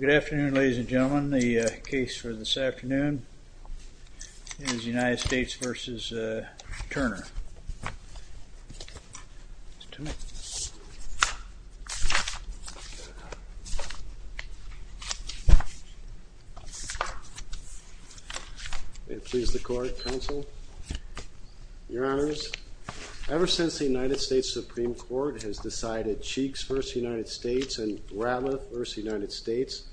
Good afternoon ladies and gentlemen. The case for this afternoon is United States v. Turner. May it please the Court, Counsel. Your Honors, ever since the United States Supreme Court has decided Cheeks v. United States and Ratliff v. United States,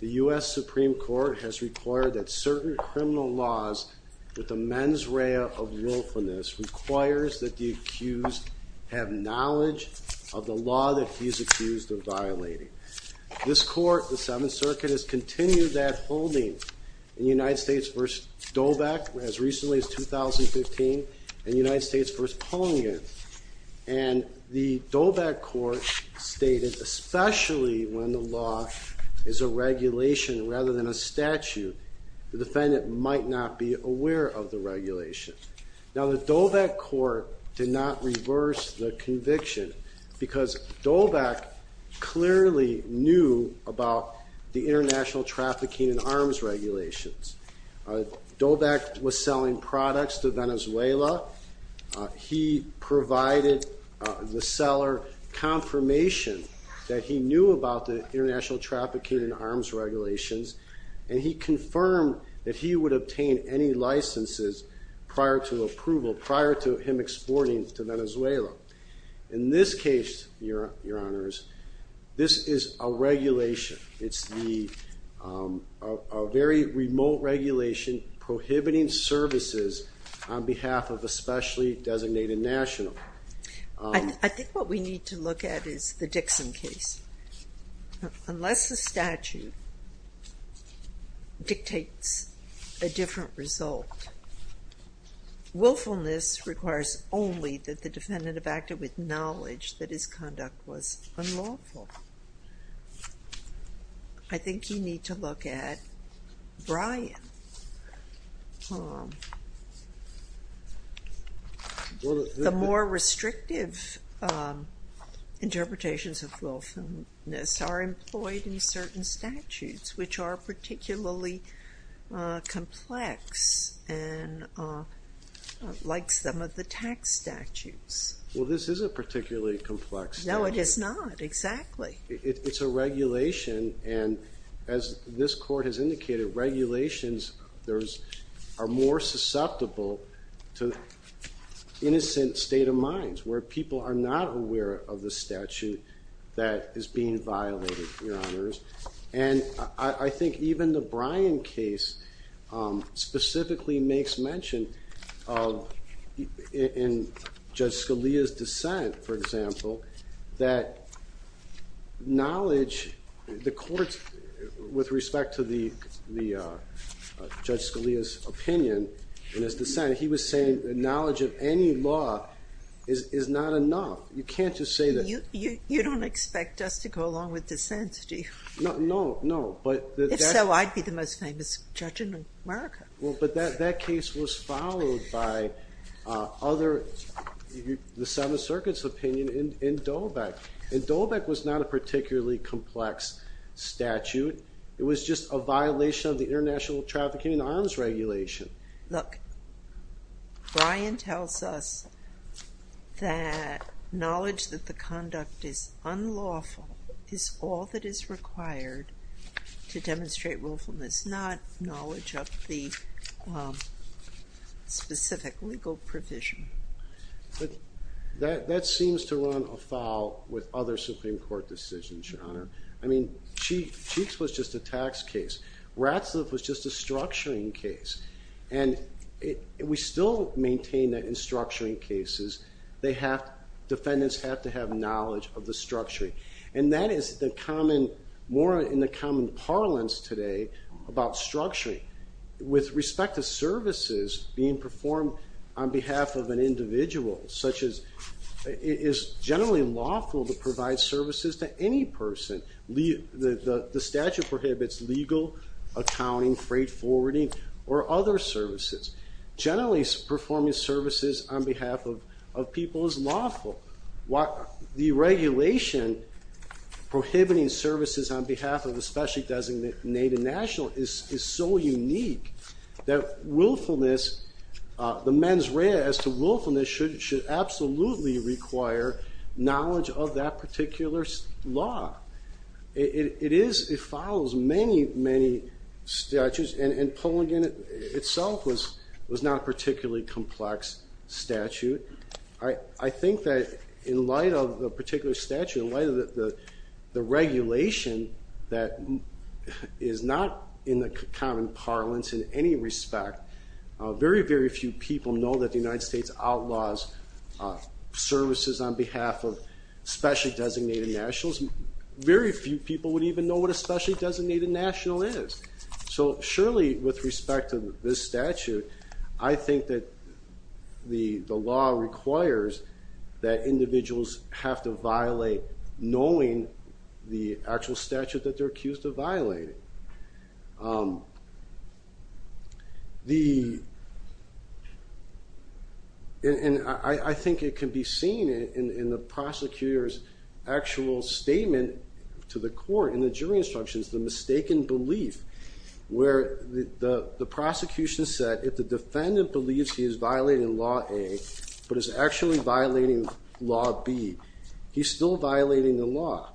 the U.S. Supreme Court has required that certain criminal laws with a mens rea of willfulness requires that the accused have knowledge of the law that he's accused of violating. This Court, the Seventh Circuit, has continued that holding in United States v. Dobeck as recently as 2015 and United States v. Pongin. And the Dobeck Court stated, especially when the law is a regulation rather than a statute, the defendant might not be aware of the regulation. Now the Dobeck Court did not reverse the conviction because Dobeck clearly knew about the international trafficking and arms regulations. Dobeck was selling products to Venezuela. He provided the seller confirmation that he knew about the international trafficking and arms regulations and he confirmed that he would obtain any licenses prior to approval, prior to him exporting to Venezuela. In this case, Your Honors, this is a regulation. It's a very remote regulation prohibiting services on behalf of a specially designated national. I think what we need to look at is the Dixon case. Unless the statute dictates a different result, willfulness requires only that the defendant have acted with The more restrictive interpretations of willfulness are employed in certain statutes which are particularly complex and like some of the tax statutes. Well this isn't particularly complex. No it is not, exactly. It's a regulation and as this Court has indicated, regulations are more susceptible to innocent state of minds where people are not aware of the statute that is being violated, Your Honors. And I think even the Bryan case specifically makes mention of, in Judge Scalia's dissent, for example, that knowledge, the courts, with respect to the Judge Scalia's dissent, he was saying the knowledge of any law is not enough. You can't just say that... You don't expect us to go along with dissent, do you? No, no, no. If so, I'd be the most famous judge in America. Well, but that case was followed by other, the Seventh Circuit's opinion in Dolbeck. And Dolbeck was not a particularly complex statute. It was just a violation of the international trafficking arms regulation. Look, Bryan tells us that knowledge that the conduct is unlawful is all that is required to demonstrate willfulness, not knowledge of the specific legal provision. But that seems to run afoul with other Supreme Court decisions, Your Honor. I mean, Cheeks was just a tax case. Ratzliff was just a structuring case. And we still maintain that in structuring cases, defendants have to have knowledge of the structuring. And that is more in the common parlance today about structuring. With respect to services being performed on behalf of an individual, such as it is generally lawful to provide services to any person. The statute prohibits legal, accounting, freight forwarding, or other services. Generally performing services on behalf of people is lawful. The regulation prohibiting services on behalf of a specially designated national is so unique that willfulness, the mens rea as to willfulness should absolutely require knowledge of that particular law. It follows many, many statutes, and Pulligan itself was not a particularly complex statute. I think that in light of the particular statute, in light of the regulation that is not in the common parlance in any respect, very, very few people know that the services on behalf of specially designated nationals, very few people would even know what a specially designated national is. So surely, with respect to this statute, I think that the law requires that individuals have to violate, knowing the actual statute that they're accused of violating. I think it can be seen in the prosecutor's actual statement to the court in the jury instructions, the mistaken belief where the prosecution said, if the defendant believes he is violating Law A, but is actually violating Law B, he's still violating the law.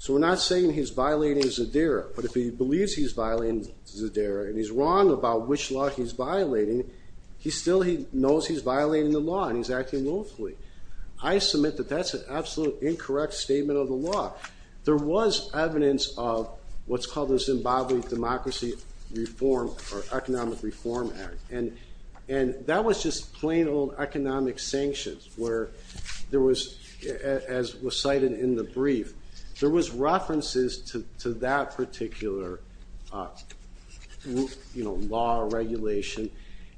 So we're not saying he's violating Zadira, but if he believes he's violating Zadira, and he's wrong about which law he's violating, he still knows he's violating the law, and he's acting lawfully. I submit that that's an absolute incorrect statement of the law. There was evidence of what's there was, as was cited in the brief, there was references to that particular law or regulation.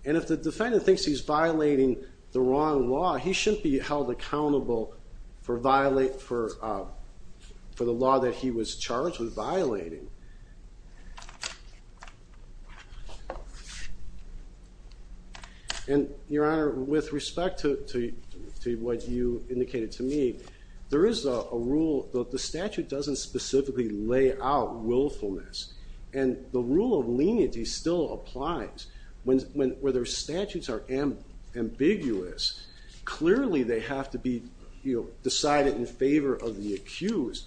And if the defendant thinks he's violating the wrong law, he shouldn't be held accountable for the law that he was charged with violating. And, Your Honor, with respect to what you indicated to me, there is a rule that the statute doesn't specifically lay out willfulness. And the rule of leniency still applies. When their statutes are ambiguous, clearly they have to be decided in favor of the accused.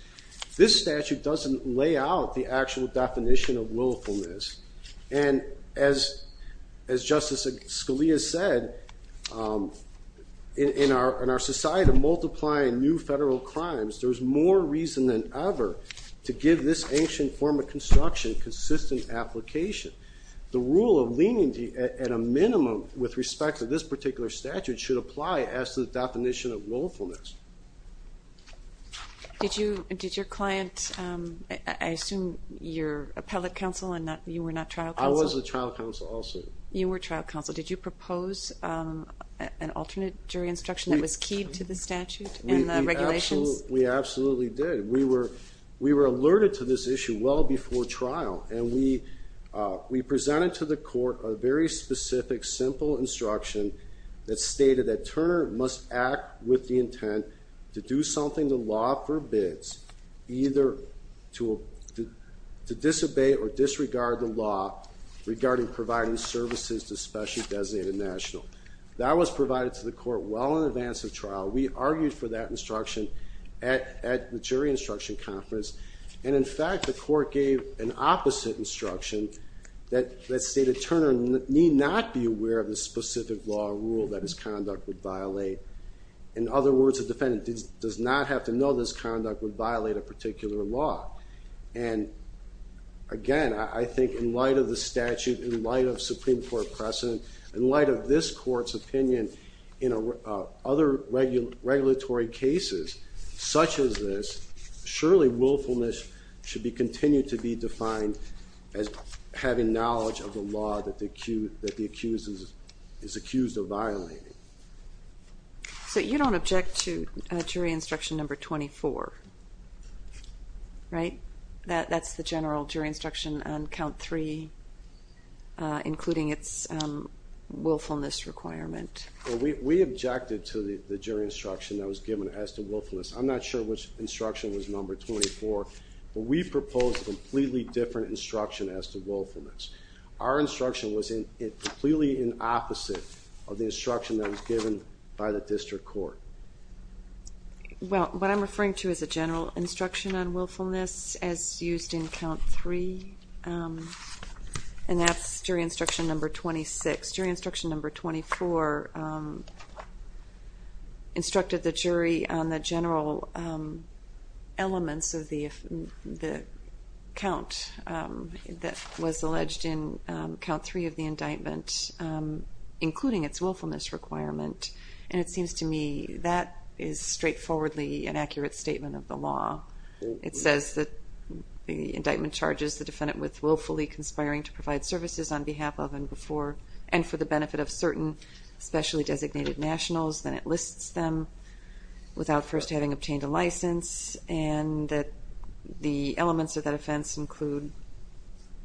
This statute doesn't lay out the actual definition of willfulness. And as Justice Scalia said, in our society of multiplying new federal crimes, there's more reason than ever to give this ancient form of construction consistent application. The rule of leniency, at a minimum, with respect to this particular statute, should apply as to the definition of willfulness. Did your client, I assume you're appellate counsel and you were not trial counsel? I was a trial counsel also. You were trial counsel. Did you propose an alternate jury instruction that was keyed to the statute and the regulations? We absolutely did. We were alerted to this issue well before trial, and we presented to the court a very clear instruction that the state attorney must act with the intent to do something the law forbids, either to disobey or disregard the law regarding providing services to specially designated national. That was provided to the court well in advance of trial. We argued for that instruction at the jury instruction conference, and in fact, the court gave an opposite instruction that the state attorney need not be aware of the specific law or rule that his conduct would violate. In other words, a defendant does not have to know this conduct would violate a particular law. And again, I think in light of the statute, in light of Supreme Court precedent, in light of this court's opinion in other regulatory cases such as this, surely willfulness should continue to be defined as having knowledge of the law that the accused is accused of violating. So you don't object to jury instruction number 24, right? That's the general jury instruction on count three, including its willfulness requirement. Well, we objected to the jury instruction that was given as to willfulness. I'm not sure which instruction was number 24, but we proposed a completely different instruction as to willfulness. Our instruction was completely in opposite of the instruction that was given by the district court. Well, what I'm referring to is a general instruction on willfulness as used in count three, and that's jury instruction number 26. Jury instruction number 24 instructed the jury on the general elements of the count that was alleged in count three of the indictment, including its willfulness requirement. And it seems to me that is straightforwardly an accurate statement of the law. It says that the indictment charges the defendant with willfully conspiring to provide services on behalf of and for the benefit of specially designated nationals. Then it lists them without first having obtained a license, and that the elements of that offense include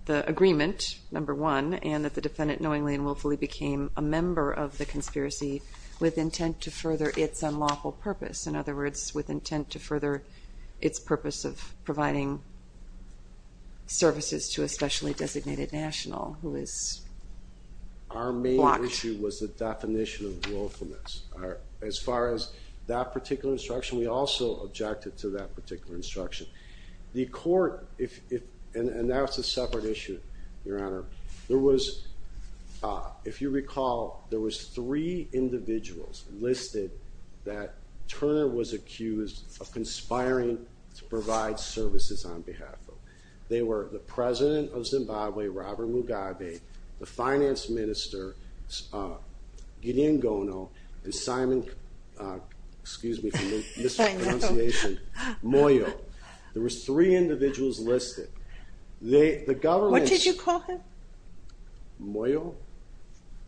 the agreement, number one, and that the defendant knowingly and willfully became a member of the conspiracy with intent to further its unlawful purpose. In other words, with intent to further its purpose of providing services to a specially designated national. As far as that particular instruction, we also objected to that particular instruction. The court, and that's a separate issue, your honor, if you recall, there was three individuals listed that Turner was accused of conspiring to provide services on behalf of. They were the president of Zimbabwe, Robert Mugabe, the finance minister, Gideon Gono, and Simon, excuse me for mispronunciation, Moyo. There was three individuals listed. They, the government... What did you call him? Moyo?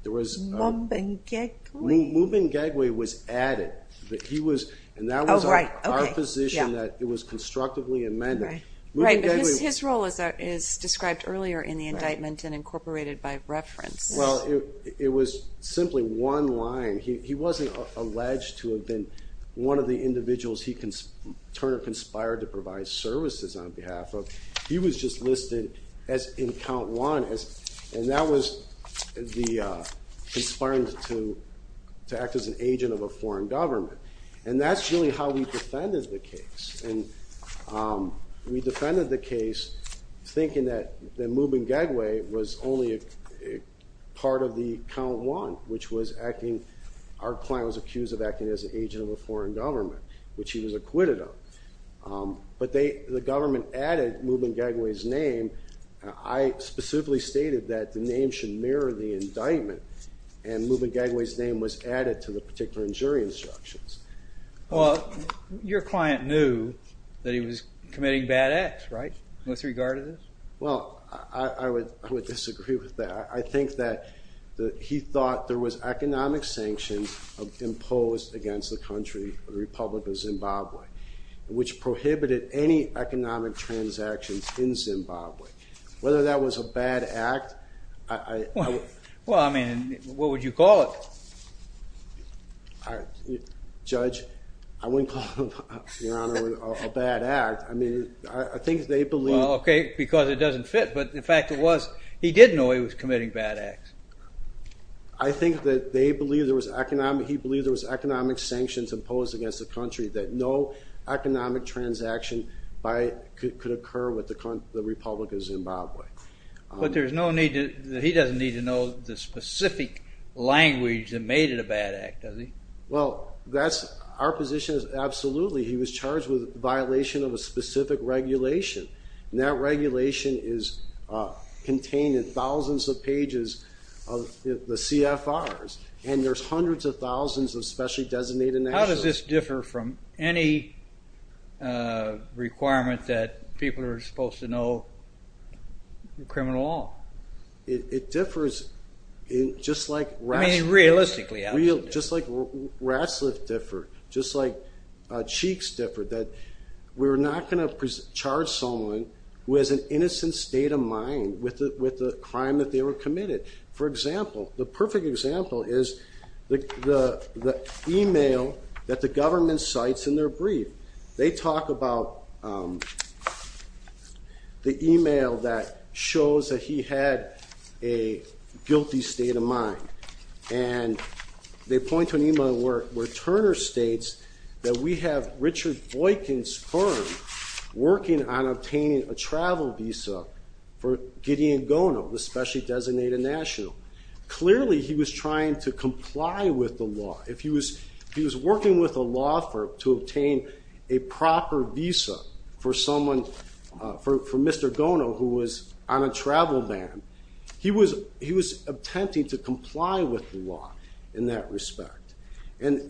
There was... Mubengegwe. Mubengegwe was added, but he was, and that was our position that it was constructively amended. Right, his role is described earlier in the indictment and incorporated by reference. Well, it was simply one line. He wasn't alleged to have been one of the individuals Turner conspired to provide services on behalf of. He was just listed in count one, and that was conspiring to act as an agent of a foreign government. And that's really how we defended the case. And we defended the case thinking that Mubengegwe was only part of the count one, which was acting... Our client was accused of acting as an agent of a foreign government, which he was acquitted of. But they, the government added Mubengegwe's name. I specifically stated that the name should mirror the indictment, and Mubengegwe's name was added to the particular jury instructions. Well, your client knew that he was committing bad acts, right, with regard to this? Well, I would disagree with that. I think that he thought there was economic sanctions imposed against the country, the Republic of Zimbabwe, which prohibited any economic transactions in Zimbabwe. Whether that was a bad act, I... Well, I mean, what would you call it? Judge, I wouldn't call it, your honor, a bad act. I mean, I think they believe... Well, okay, because it doesn't fit, but in fact it was. He did know he was committing bad acts. I think that they believe there was economic... He believed there was economic sanctions imposed against the country that no economic transaction could occur with the Republic of Zimbabwe. But there's no need to... He doesn't need to know the specific language that made it a bad act, does he? Well, that's our position is absolutely. He was charged with violation of a specific regulation, and that regulation is contained in thousands of pages of the CFRs, and there's hundreds of thousands of specially designated national... How does this supposed to know criminal law? It differs just like rats... I mean, realistically. Just like rats' lips differ, just like cheeks differ, that we're not going to charge someone who has an innocent state of mind with the crime that they were committed. For example, the perfect example is the email that the government cites in their brief. They talk about the email that shows that he had a guilty state of mind, and they point to an email where Turner states that we have Richard Boykin's firm working on obtaining a travel visa for Gideon Gono, the specially designated national. Clearly, he was trying to comply with the law. If he was for Mr. Gono, who was on a travel ban, he was attempting to comply with the law in that respect, and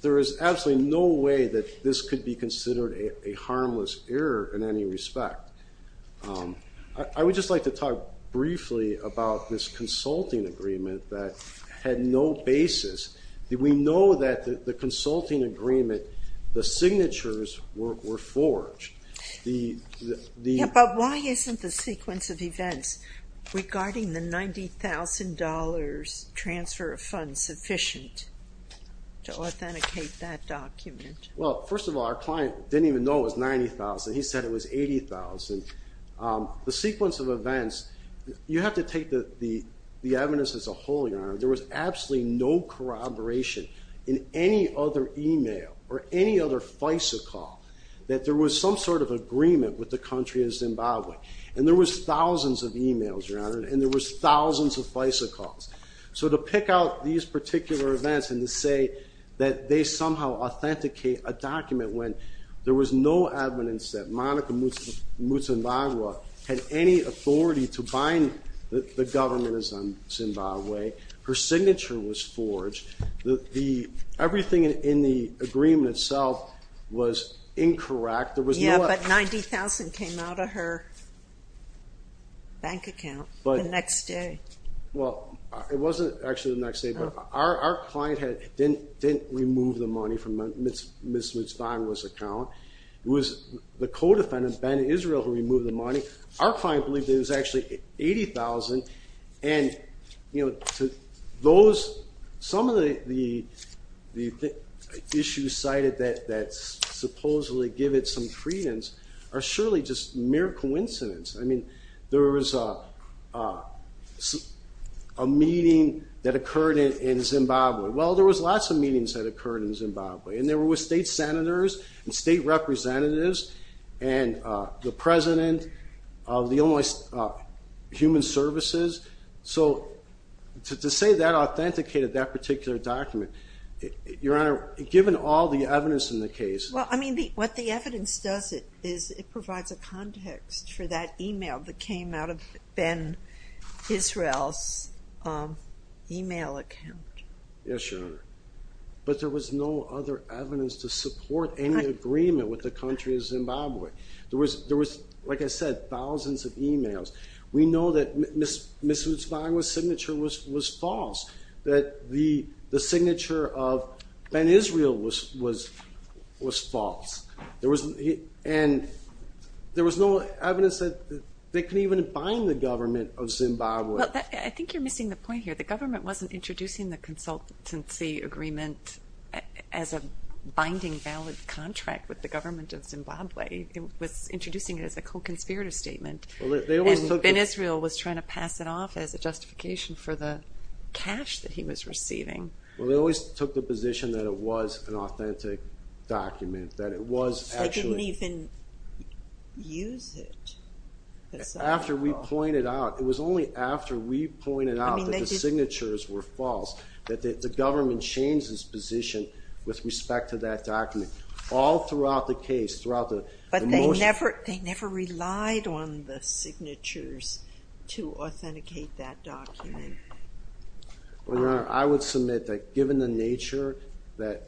there is absolutely no way that this could be considered a harmless error in any respect. I would just like to talk briefly about this consulting agreement that had no basis. We know that the consulting agreement, the signatures were forged. But why isn't the sequence of events regarding the $90,000 transfer of funds sufficient to authenticate that document? Well, first of all, our client didn't even know it was $90,000. He said it was $80,000. The sequence of events, you have to take the evidence as a holding arm. There was absolutely no corroboration in any other email or any other FISA call that there was some sort of agreement with the country of Zimbabwe. And there was thousands of emails, Your Honor, and there was thousands of FISA calls. So to pick out these particular events and to say that they somehow authenticate a document when there was no evidence that Monica Mutsumbagwa had any authority to bind the government of Zimbabwe, her signature was forged, everything in the agreement itself was incorrect. Yeah, but $90,000 came out of her bank account the next day. Well, it wasn't actually the next day, but our client didn't remove the money from Ms. Mutsumbagwa's account. It was the co-defendant, Ben Israel, who removed the money. Our client believed it was actually $80,000. Some of the issues cited that supposedly give it some credence are surely just mere coincidence. I mean, there was a meeting that occurred in Zimbabwe and they were with state senators and state representatives and the president of the Illinois Human Services. So to say that authenticated that particular document, Your Honor, given all the evidence in the case... Well, I mean, what the evidence does is it provides a context for that email that came out of Ben Israel's email account. Yes, Your Honor. But there was no other evidence to support any agreement with the country of Zimbabwe. There was, like I said, thousands of emails. We know that Ms. Mutsumbagwa's signature was false, that the signature of Ben Israel was false. And there was no evidence that they could even bind the government of Zimbabwe. Well, I think you're missing the point here. The government wasn't introducing the consultancy agreement as a binding valid contract with the government of Zimbabwe. It was introducing it as a co-conspirator statement. Ben Israel was trying to pass it off as a justification for the cash that he was receiving. Well, they always took the position that it was an authentic document, that it was actually... They didn't even use it. After we pointed out, it was only after we pointed out that the signatures were false, that the government changed its position with respect to that document. All throughout the case, throughout the motion... But they never relied on the signatures to authenticate that document. Well, Your Honor, I would submit that given the nature that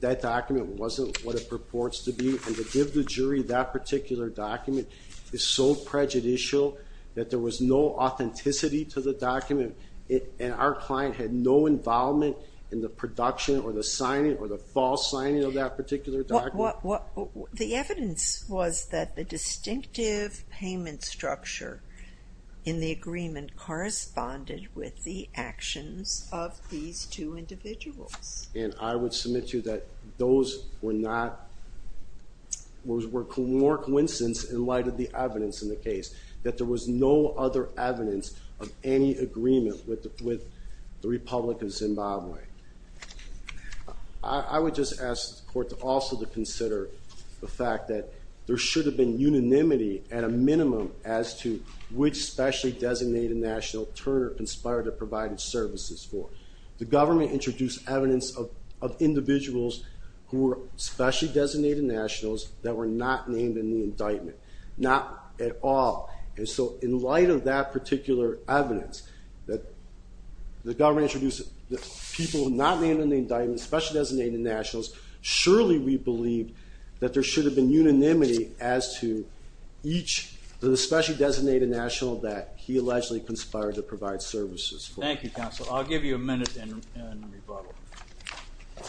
that document wasn't what purports to be, and to give the jury that particular document is so prejudicial that there was no authenticity to the document, and our client had no involvement in the production or the signing or the false signing of that particular document... The evidence was that the distinctive payment structure in the agreement corresponded with the actions of these two men, were more coincidence in light of the evidence in the case, that there was no other evidence of any agreement with the Republic of Zimbabwe. I would just ask the court also to consider the fact that there should have been unanimity at a minimum as to which specially designated national turner conspired to provide its services for. The government introduced evidence of individuals who were specially designated nationals that were not named in the indictment, not at all. And so in light of that particular evidence that the government introduced people who were not named in the indictment, specially designated nationals, surely we believe that there should have been unanimity as to each of the specially designated national that he allegedly conspired to provide services for. Thank you, counsel. I'll give you a minute and rebuttal. Mr.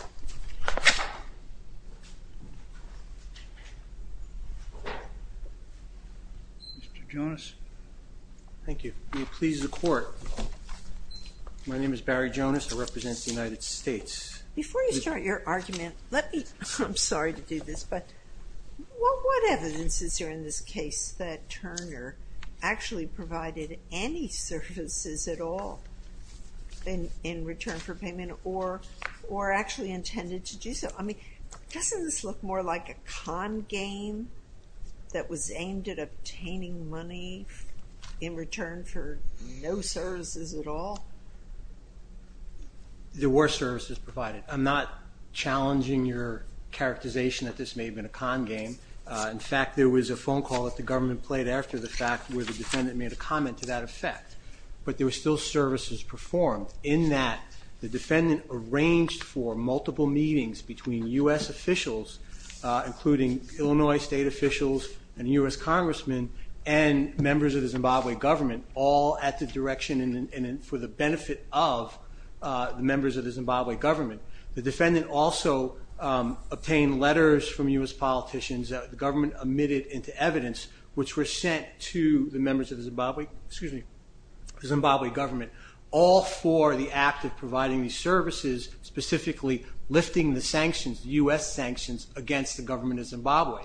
Jonas? Thank you. Will you please report? My name is Barry Jonas. I represent the United States. Before you start your argument, let me, I'm sorry to do this, but what evidence is there in this case that Turner actually provided any services at all in return for payment or actually intended to do so? I mean, doesn't this look more like a con game that was aimed at obtaining money in return for no services at all? There were services provided. I'm not challenging your characterization that this may have been a con game. In fact, there was a phone call that the government played after the fact where the services performed in that the defendant arranged for multiple meetings between U.S. officials, including Illinois state officials and U.S. congressmen and members of the Zimbabwe government, all at the direction and for the benefit of the members of the Zimbabwe government. The defendant also obtained letters from U.S. politicians that the government omitted into all for the act of providing these services, specifically lifting the sanctions, U.S. sanctions against the government of Zimbabwe.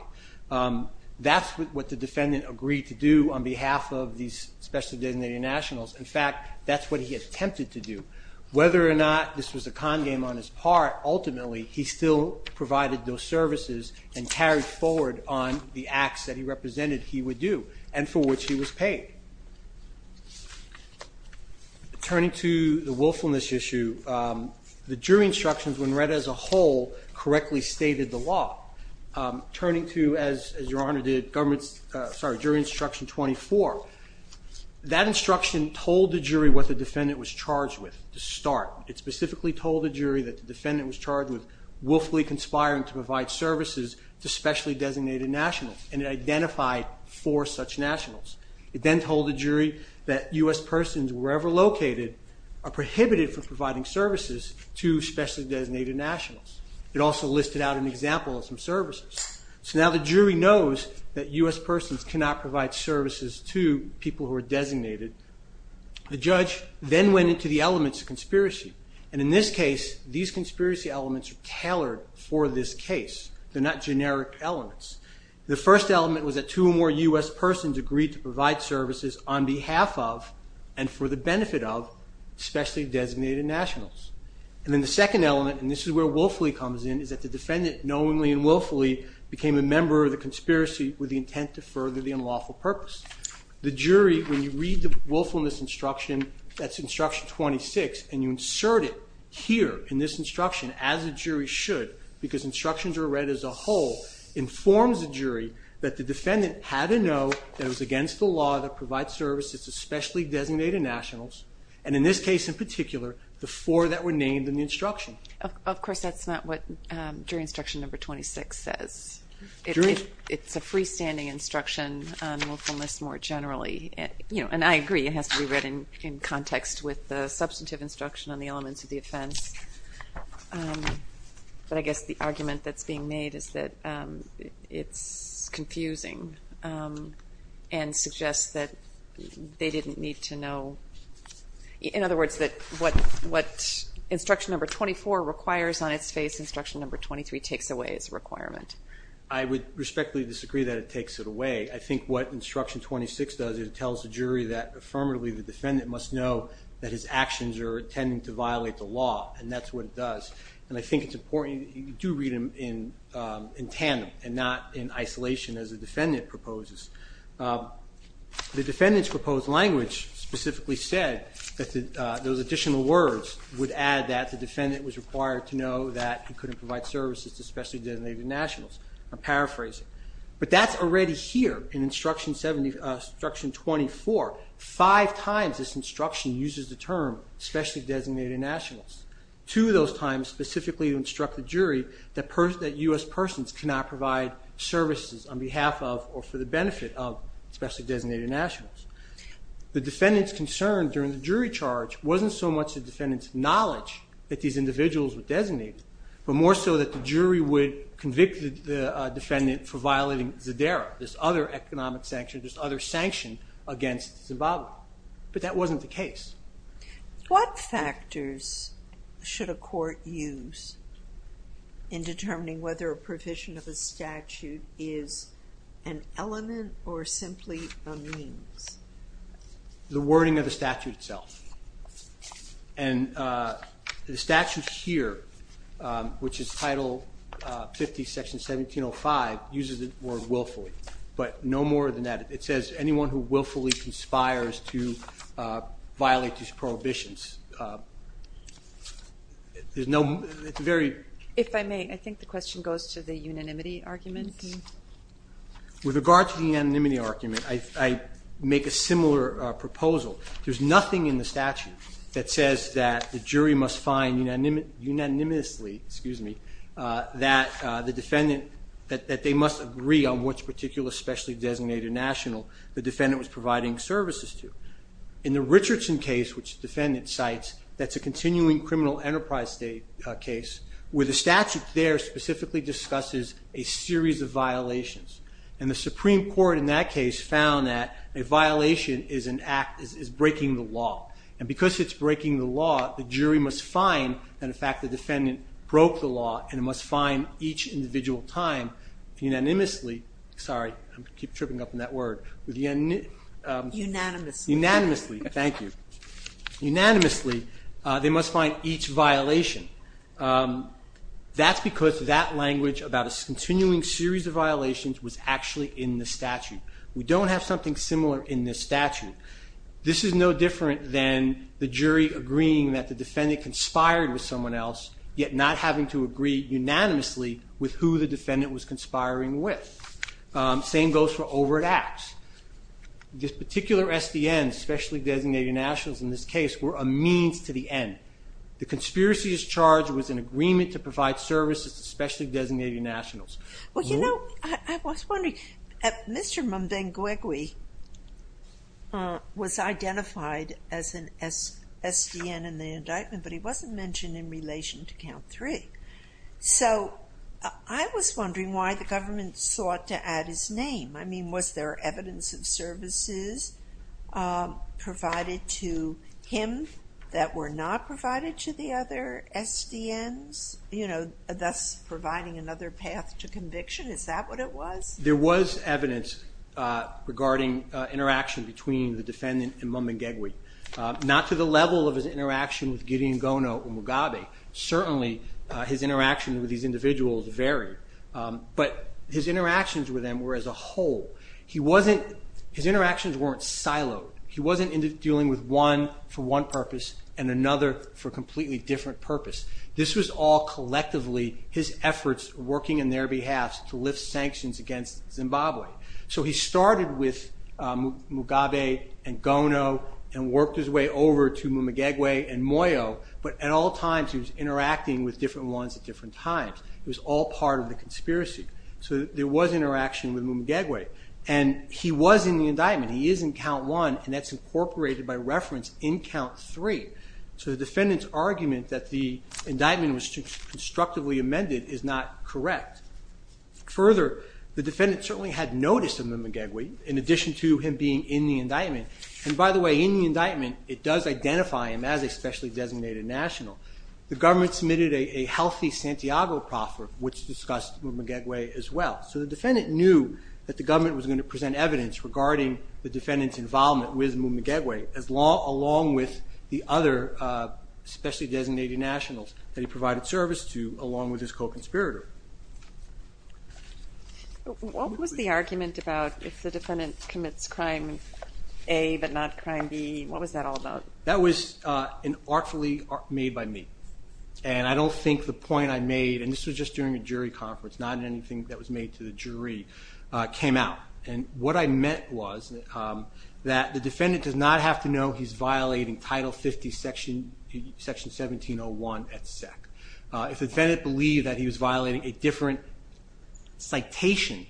That's what the defendant agreed to do on behalf of these special designated nationals. In fact, that's what he attempted to do. Whether or not this was a con game on his part, ultimately he still provided those services and carried forward on the acts that he represented he would do and for which he was paid. Turning to the willfulness issue, the jury instructions when read as a whole correctly stated the law. Turning to, as your honor did, jury instruction 24, that instruction told the jury what the defendant was charged with to start. It specifically told the jury that the defendant was charged with willfully conspiring to provide services to specially designated nationals and it identified four such nationals. It then told the jury that U.S. persons wherever located are prohibited from providing services to specially designated nationals. It also listed out an example of some services. So now the jury knows that U.S. persons cannot provide services to people who are designated. The judge then went into the case. They're not generic elements. The first element was that two or more U.S. persons agreed to provide services on behalf of and for the benefit of specially designated nationals. And then the second element, and this is where willfully comes in, is that the defendant knowingly and willfully became a member of the conspiracy with the intent to further the unlawful purpose. The jury, when you read the willfulness instruction, that's instruction 26, and you insert it here in this instruction as a jury should, because instructions are read as a whole, informs the jury that the defendant had to know that it was against the law to provide services to specially designated nationals, and in this case in particular, the four that were named in the instruction. Of course, that's not what jury instruction number 26 says. It's a freestanding instruction on willfulness more generally. And I agree, it has to be read in context with the substantive instruction on the elements of the offense. But I guess the argument that's being made is that it's confusing and suggests that they didn't need to know. In other words, that what instruction number 24 requires on its face, instruction number 23 takes away as a requirement. I would respectfully disagree that it takes it away. I think what instruction 26 does is it the defendant must know that his actions are intending to violate the law, and that's what it does. And I think it's important you do read them in tandem and not in isolation as the defendant proposes. The defendant's proposed language specifically said that those additional words would add that the defendant was required to know that he couldn't provide services to specially designated nationals. I'm paraphrasing. But that's already here in instruction 24. Five times this instruction uses the term specially designated nationals. Two of those times specifically instruct the jury that U.S. persons cannot provide services on behalf of or for the benefit of specially designated nationals. The defendant's concern during the jury charge wasn't so much the defendant's knowledge that these individuals would designate, but more so that the jury would convict the defendant for violating Zadera, this other economic sanction, this other Zimbabwe. But that wasn't the case. What factors should a court use in determining whether a provision of a statute is an element or simply a means? The wording of the statute itself. And the statute here, which is Title 50, Section 1705, uses the word willfully. But no more than that. It says anyone who willfully conspires to violate these prohibitions. If I may, I think the question goes to the unanimity argument. With regard to the unanimity argument, I make a similar proposal. There's nothing in the statute that says that the jury must find unanimously that the defendant, that they must agree on which particular specially designated national the defendant was providing services to. In the Richardson case, which the defendant cites, that's a continuing criminal enterprise case, where the statute there specifically discusses a series of violations. And the Supreme Court in that case found that a violation is breaking the law. And because it's breaking the law, the jury must find that in fact the defendant broke the law and must find each individual time unanimously. Sorry, I keep tripping up on that word. Unanimously. Thank you. Unanimously, they must find each violation. That's because that language about a continuing series of violations was actually in the statute. We don't have something similar in this statute. This is no different than the jury agreeing that the defendant conspired with someone else, yet not having to agree unanimously with who the defendant was conspiring with. Same goes for overt acts. This particular SDN, specially designated nationals in this case, were a means to the end. The conspiracy as charged was an agreement to provide services to specially designated nationals. Well, you know, I was wondering, Mr. Mbenguegui was identified as an SDN in the indictment, but he wasn't mentioned in relation to count three. So I was wondering why the government sought to add his name. I mean, was there evidence of services provided to him that were not provided to the other SDNs, you know, thus providing another path to conviction? Is that what it was? There was evidence regarding interaction between the defendant and Mbenguegui. Not to the level of his interaction with Gideon Gono or Mugabe. Certainly, his interaction with these individuals varied. But his interactions with them were as a whole. His interactions weren't siloed. He wasn't dealing with one for one purpose and another for a completely different purpose. This was all collectively his efforts working on their behalf to lift sanctions against Zimbabwe. So he started with Mugabe and Gono and worked his way over to Mbenguegui and Moyo, but at all times he was interacting with different ones at different times. It was all part of the conspiracy. So there was interaction with Mbenguegui. And he was in the indictment. He is in count one, and that's incorporated by reference in count three. So the defendant's argument that the indictment was constructively amended is not correct. Further, the defendant certainly had notice of Mbenguegui, in addition to him being in the indictment. And by the way, in the indictment, it does identify him as a specially designated national. The government submitted a healthy Santiago proffer, which discussed Mbenguegui as well. So the defendant knew that the government was going to present evidence regarding the defendant's involvement with Mbenguegui along with the other specially designated nationals that he provided service to along with his co-conspirator. What was the argument about if the defendant commits crime A but not crime B? What was that all about? That was an artfully made by me. And I don't think the point I made, and this was just during a jury conference, not anything that was made to the jury, came out. And what I meant was that the defendant does not have to know he's violating Title 50 Section 1701 et sec. If the defendant believed that he was violating a different citation,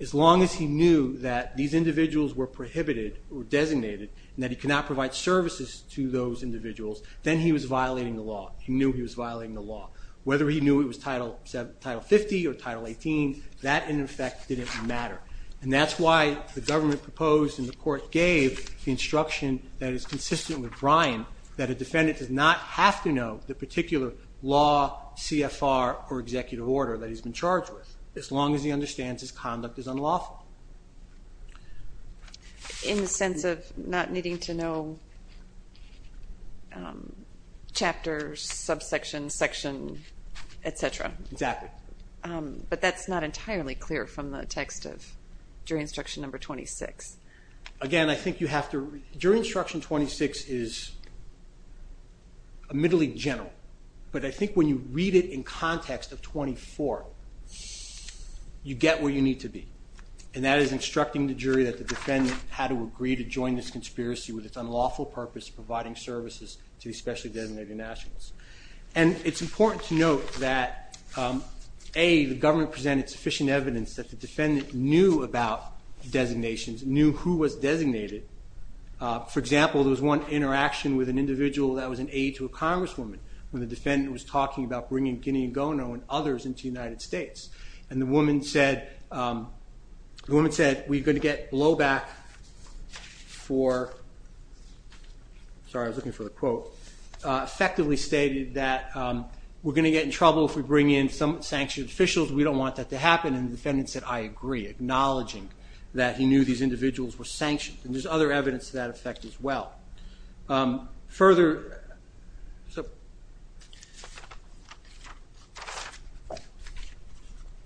as long as he knew that these individuals were prohibited or designated and that he could not provide services to those individuals, then he was violating the law. He knew he was violating the law. Whether he knew it was Title 50 or Title 18, that in effect didn't matter. And that's why the government proposed and the court gave the instruction that is consistent with Brian that a defendant does not have to know the particular law, CFR, or executive order that he's been charged with, as long as he understands his conduct is unlawful. In the sense of not needing to know chapters, subsection, section, et cetera. Exactly. But that's not entirely clear from the text of Jury Instruction Number 26. Again, I think you have to... Jury Instruction 26 is admittedly general, but I think when you read it in context of 24, you get where you need to be. And that is instructing the jury that the defendant had agreed to join this conspiracy with its unlawful purpose of providing services to especially designated nationals. And it's important to note that A, the government presented sufficient evidence that the defendant knew about designations, knew who was designated. For example, there was one interaction with an individual that was an aide to a congresswoman when the defendant was talking about bringing Guinea Gono and others into the United States. And the woman said, we're going to get blowback for... Sorry, I was looking for the quote. Effectively stated that we're going to get in trouble if we bring in some sanctioned officials, we don't want that to happen. And the defendant said, I agree, acknowledging that he knew these individuals were sanctioned. And there's other evidence to that effect as well. Further...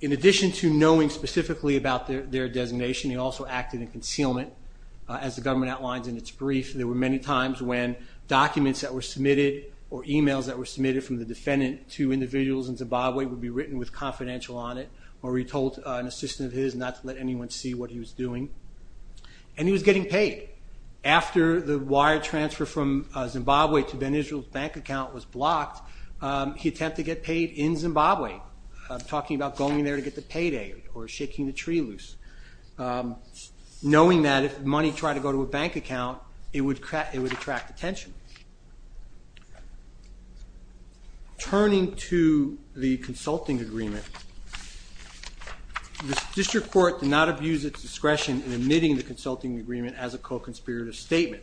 In addition to knowing specifically about their designation, he also acted in concealment. As the government outlines in its brief, there were many times when documents that were submitted or emails that were submitted from the defendant to individuals in Zimbabwe would be written with confidential on it, or he told an assistant of his not to let anyone see what he was doing. And he was getting paid. After the wire transfer from Zimbabwe to Ben Israel's bank account was blocked, he attempted to get paid in Zimbabwe, talking about going there to get the payday, or shaking the tree loose. Knowing that if money tried to go to a bank account, it would attract attention. Turning to the consulting agreement, the district court did not abuse its discretion in admitting the consulting agreement as a co-conspirator statement.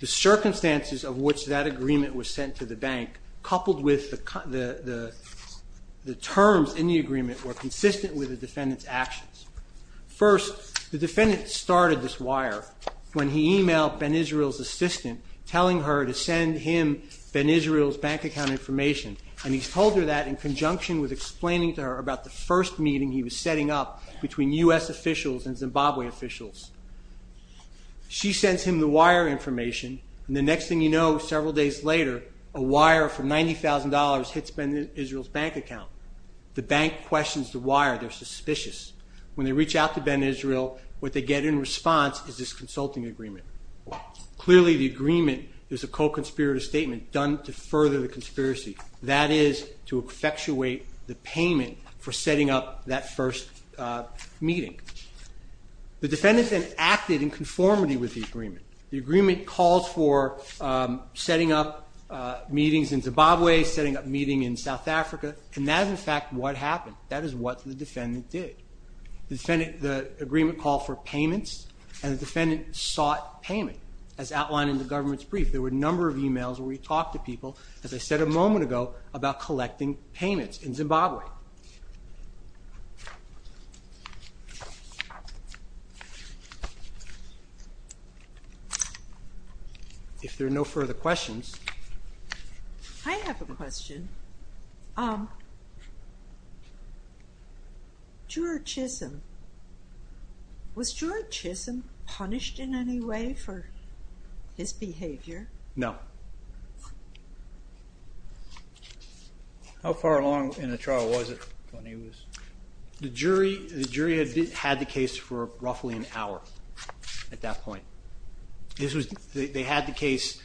The circumstances of which that agreement was sent to the bank, coupled with the terms in the agreement, were consistent with the defendant's actions. First, the defendant started this wire when he emailed Ben Israel's assistant telling her to send him Ben Israel's bank account information. And he told her that in conjunction with explaining to her about the first meeting he was setting up between U.S. officials and Zimbabwe officials. She sends him the wire information, and the next thing you know, several days later, a wire for $90,000 hits Ben Israel's bank account. The bank questions the wire. They're suspicious. When they reach out to Ben Israel, what they get in response is this co-conspirator statement done to further the conspiracy. That is to effectuate the payment for setting up that first meeting. The defendant then acted in conformity with the agreement. The agreement calls for setting up meetings in Zimbabwe, setting up meetings in South Africa, and that is in fact what happened. That is what the defendant did. The agreement called for a number of emails where he talked to people, as I said a moment ago, about collecting payments in Zimbabwe. If there are no further questions. I have a question. Um, juror Chisholm, was juror Chisholm punished in any way for his behavior? No. How far along in the trial was it when he was? The jury had the case for roughly an hour at that point. They had the case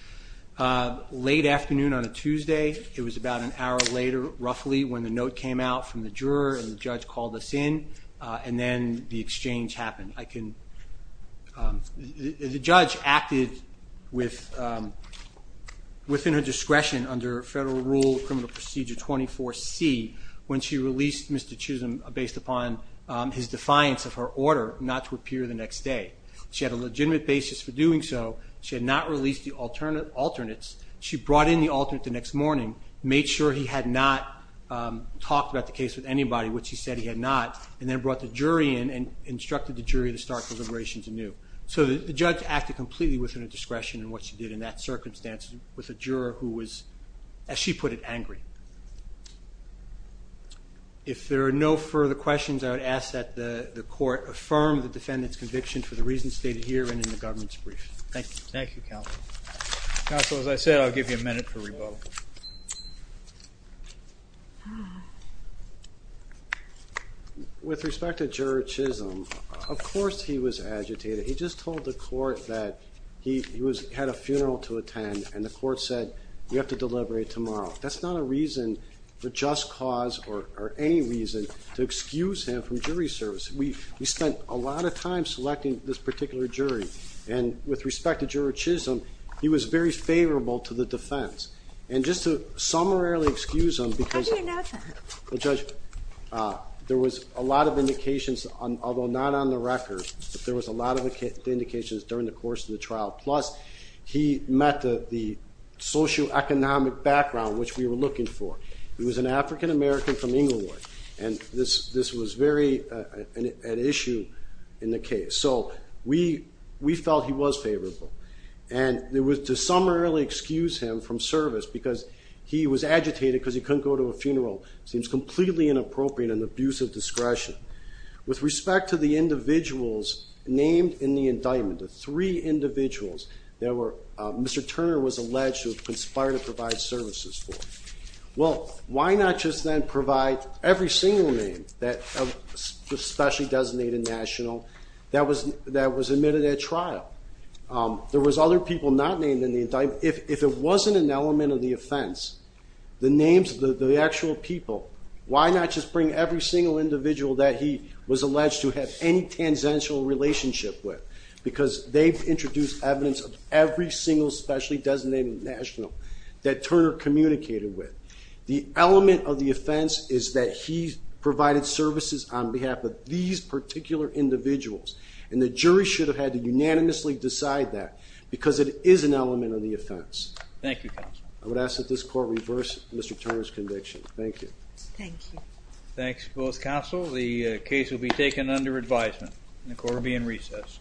late afternoon on a Tuesday. It was about an hour later roughly when the note came out from the juror and the judge called us in and then the exchange happened. The judge acted within her discretion under Federal Rule Criminal Procedure 24C when she had a legitimate basis for doing so. She had not released the alternates. She brought in the alternate the next morning, made sure he had not talked about the case with anybody, which he said he had not, and then brought the jury in and instructed the jury to start deliberations anew. So the judge acted completely within her discretion in what she did in that circumstance with a juror who was, as she put it, angry. If there are no further questions, I would ask that the court affirm the defendant's conviction for the reasons stated here and in the government's brief. Thank you. Thank you, counsel. Counsel, as I said, I'll give you a minute for rebuttal. With respect to juror Chisholm, of course he was agitated. He just told the court that he had a funeral to attend and the court said, you have to deliberate tomorrow. That's not a reason for just cause or any reason to excuse him from jury service. We spent a lot of time selecting this particular jury, and with respect to juror Chisholm, he was very favorable to the defense. And just to summarily excuse him, because there was a lot of indications, although not on the record, but there was a lot of indications during the course of the trial. Plus, he met the socioeconomic background which we were looking for. He was an African-American from Inglewood, and this was very an issue in the case. So we felt he was favorable. And there was to summarily excuse him from service because he was agitated because he couldn't go to a funeral. It seems completely inappropriate and an abuse of discretion. With respect to the Mr. Turner was alleged to have conspired to provide services for him. Well, why not just then provide every single name that was specially designated national that was admitted at trial? There was other people not named in the indictment. If it wasn't an element of the offense, the names of the actual people, why not just bring every single individual that he was alleged to have any relationship with? Because they've introduced evidence of every single specially designated national that Turner communicated with. The element of the offense is that he provided services on behalf of these particular individuals. And the jury should have had to unanimously decide that because it is an element of the offense. Thank you, counsel. I would ask that this court reverse Mr. Turner's conviction. Thank you. Thank you. Thanks for both counsel. The case will be taken under advisement. The court will be in recess.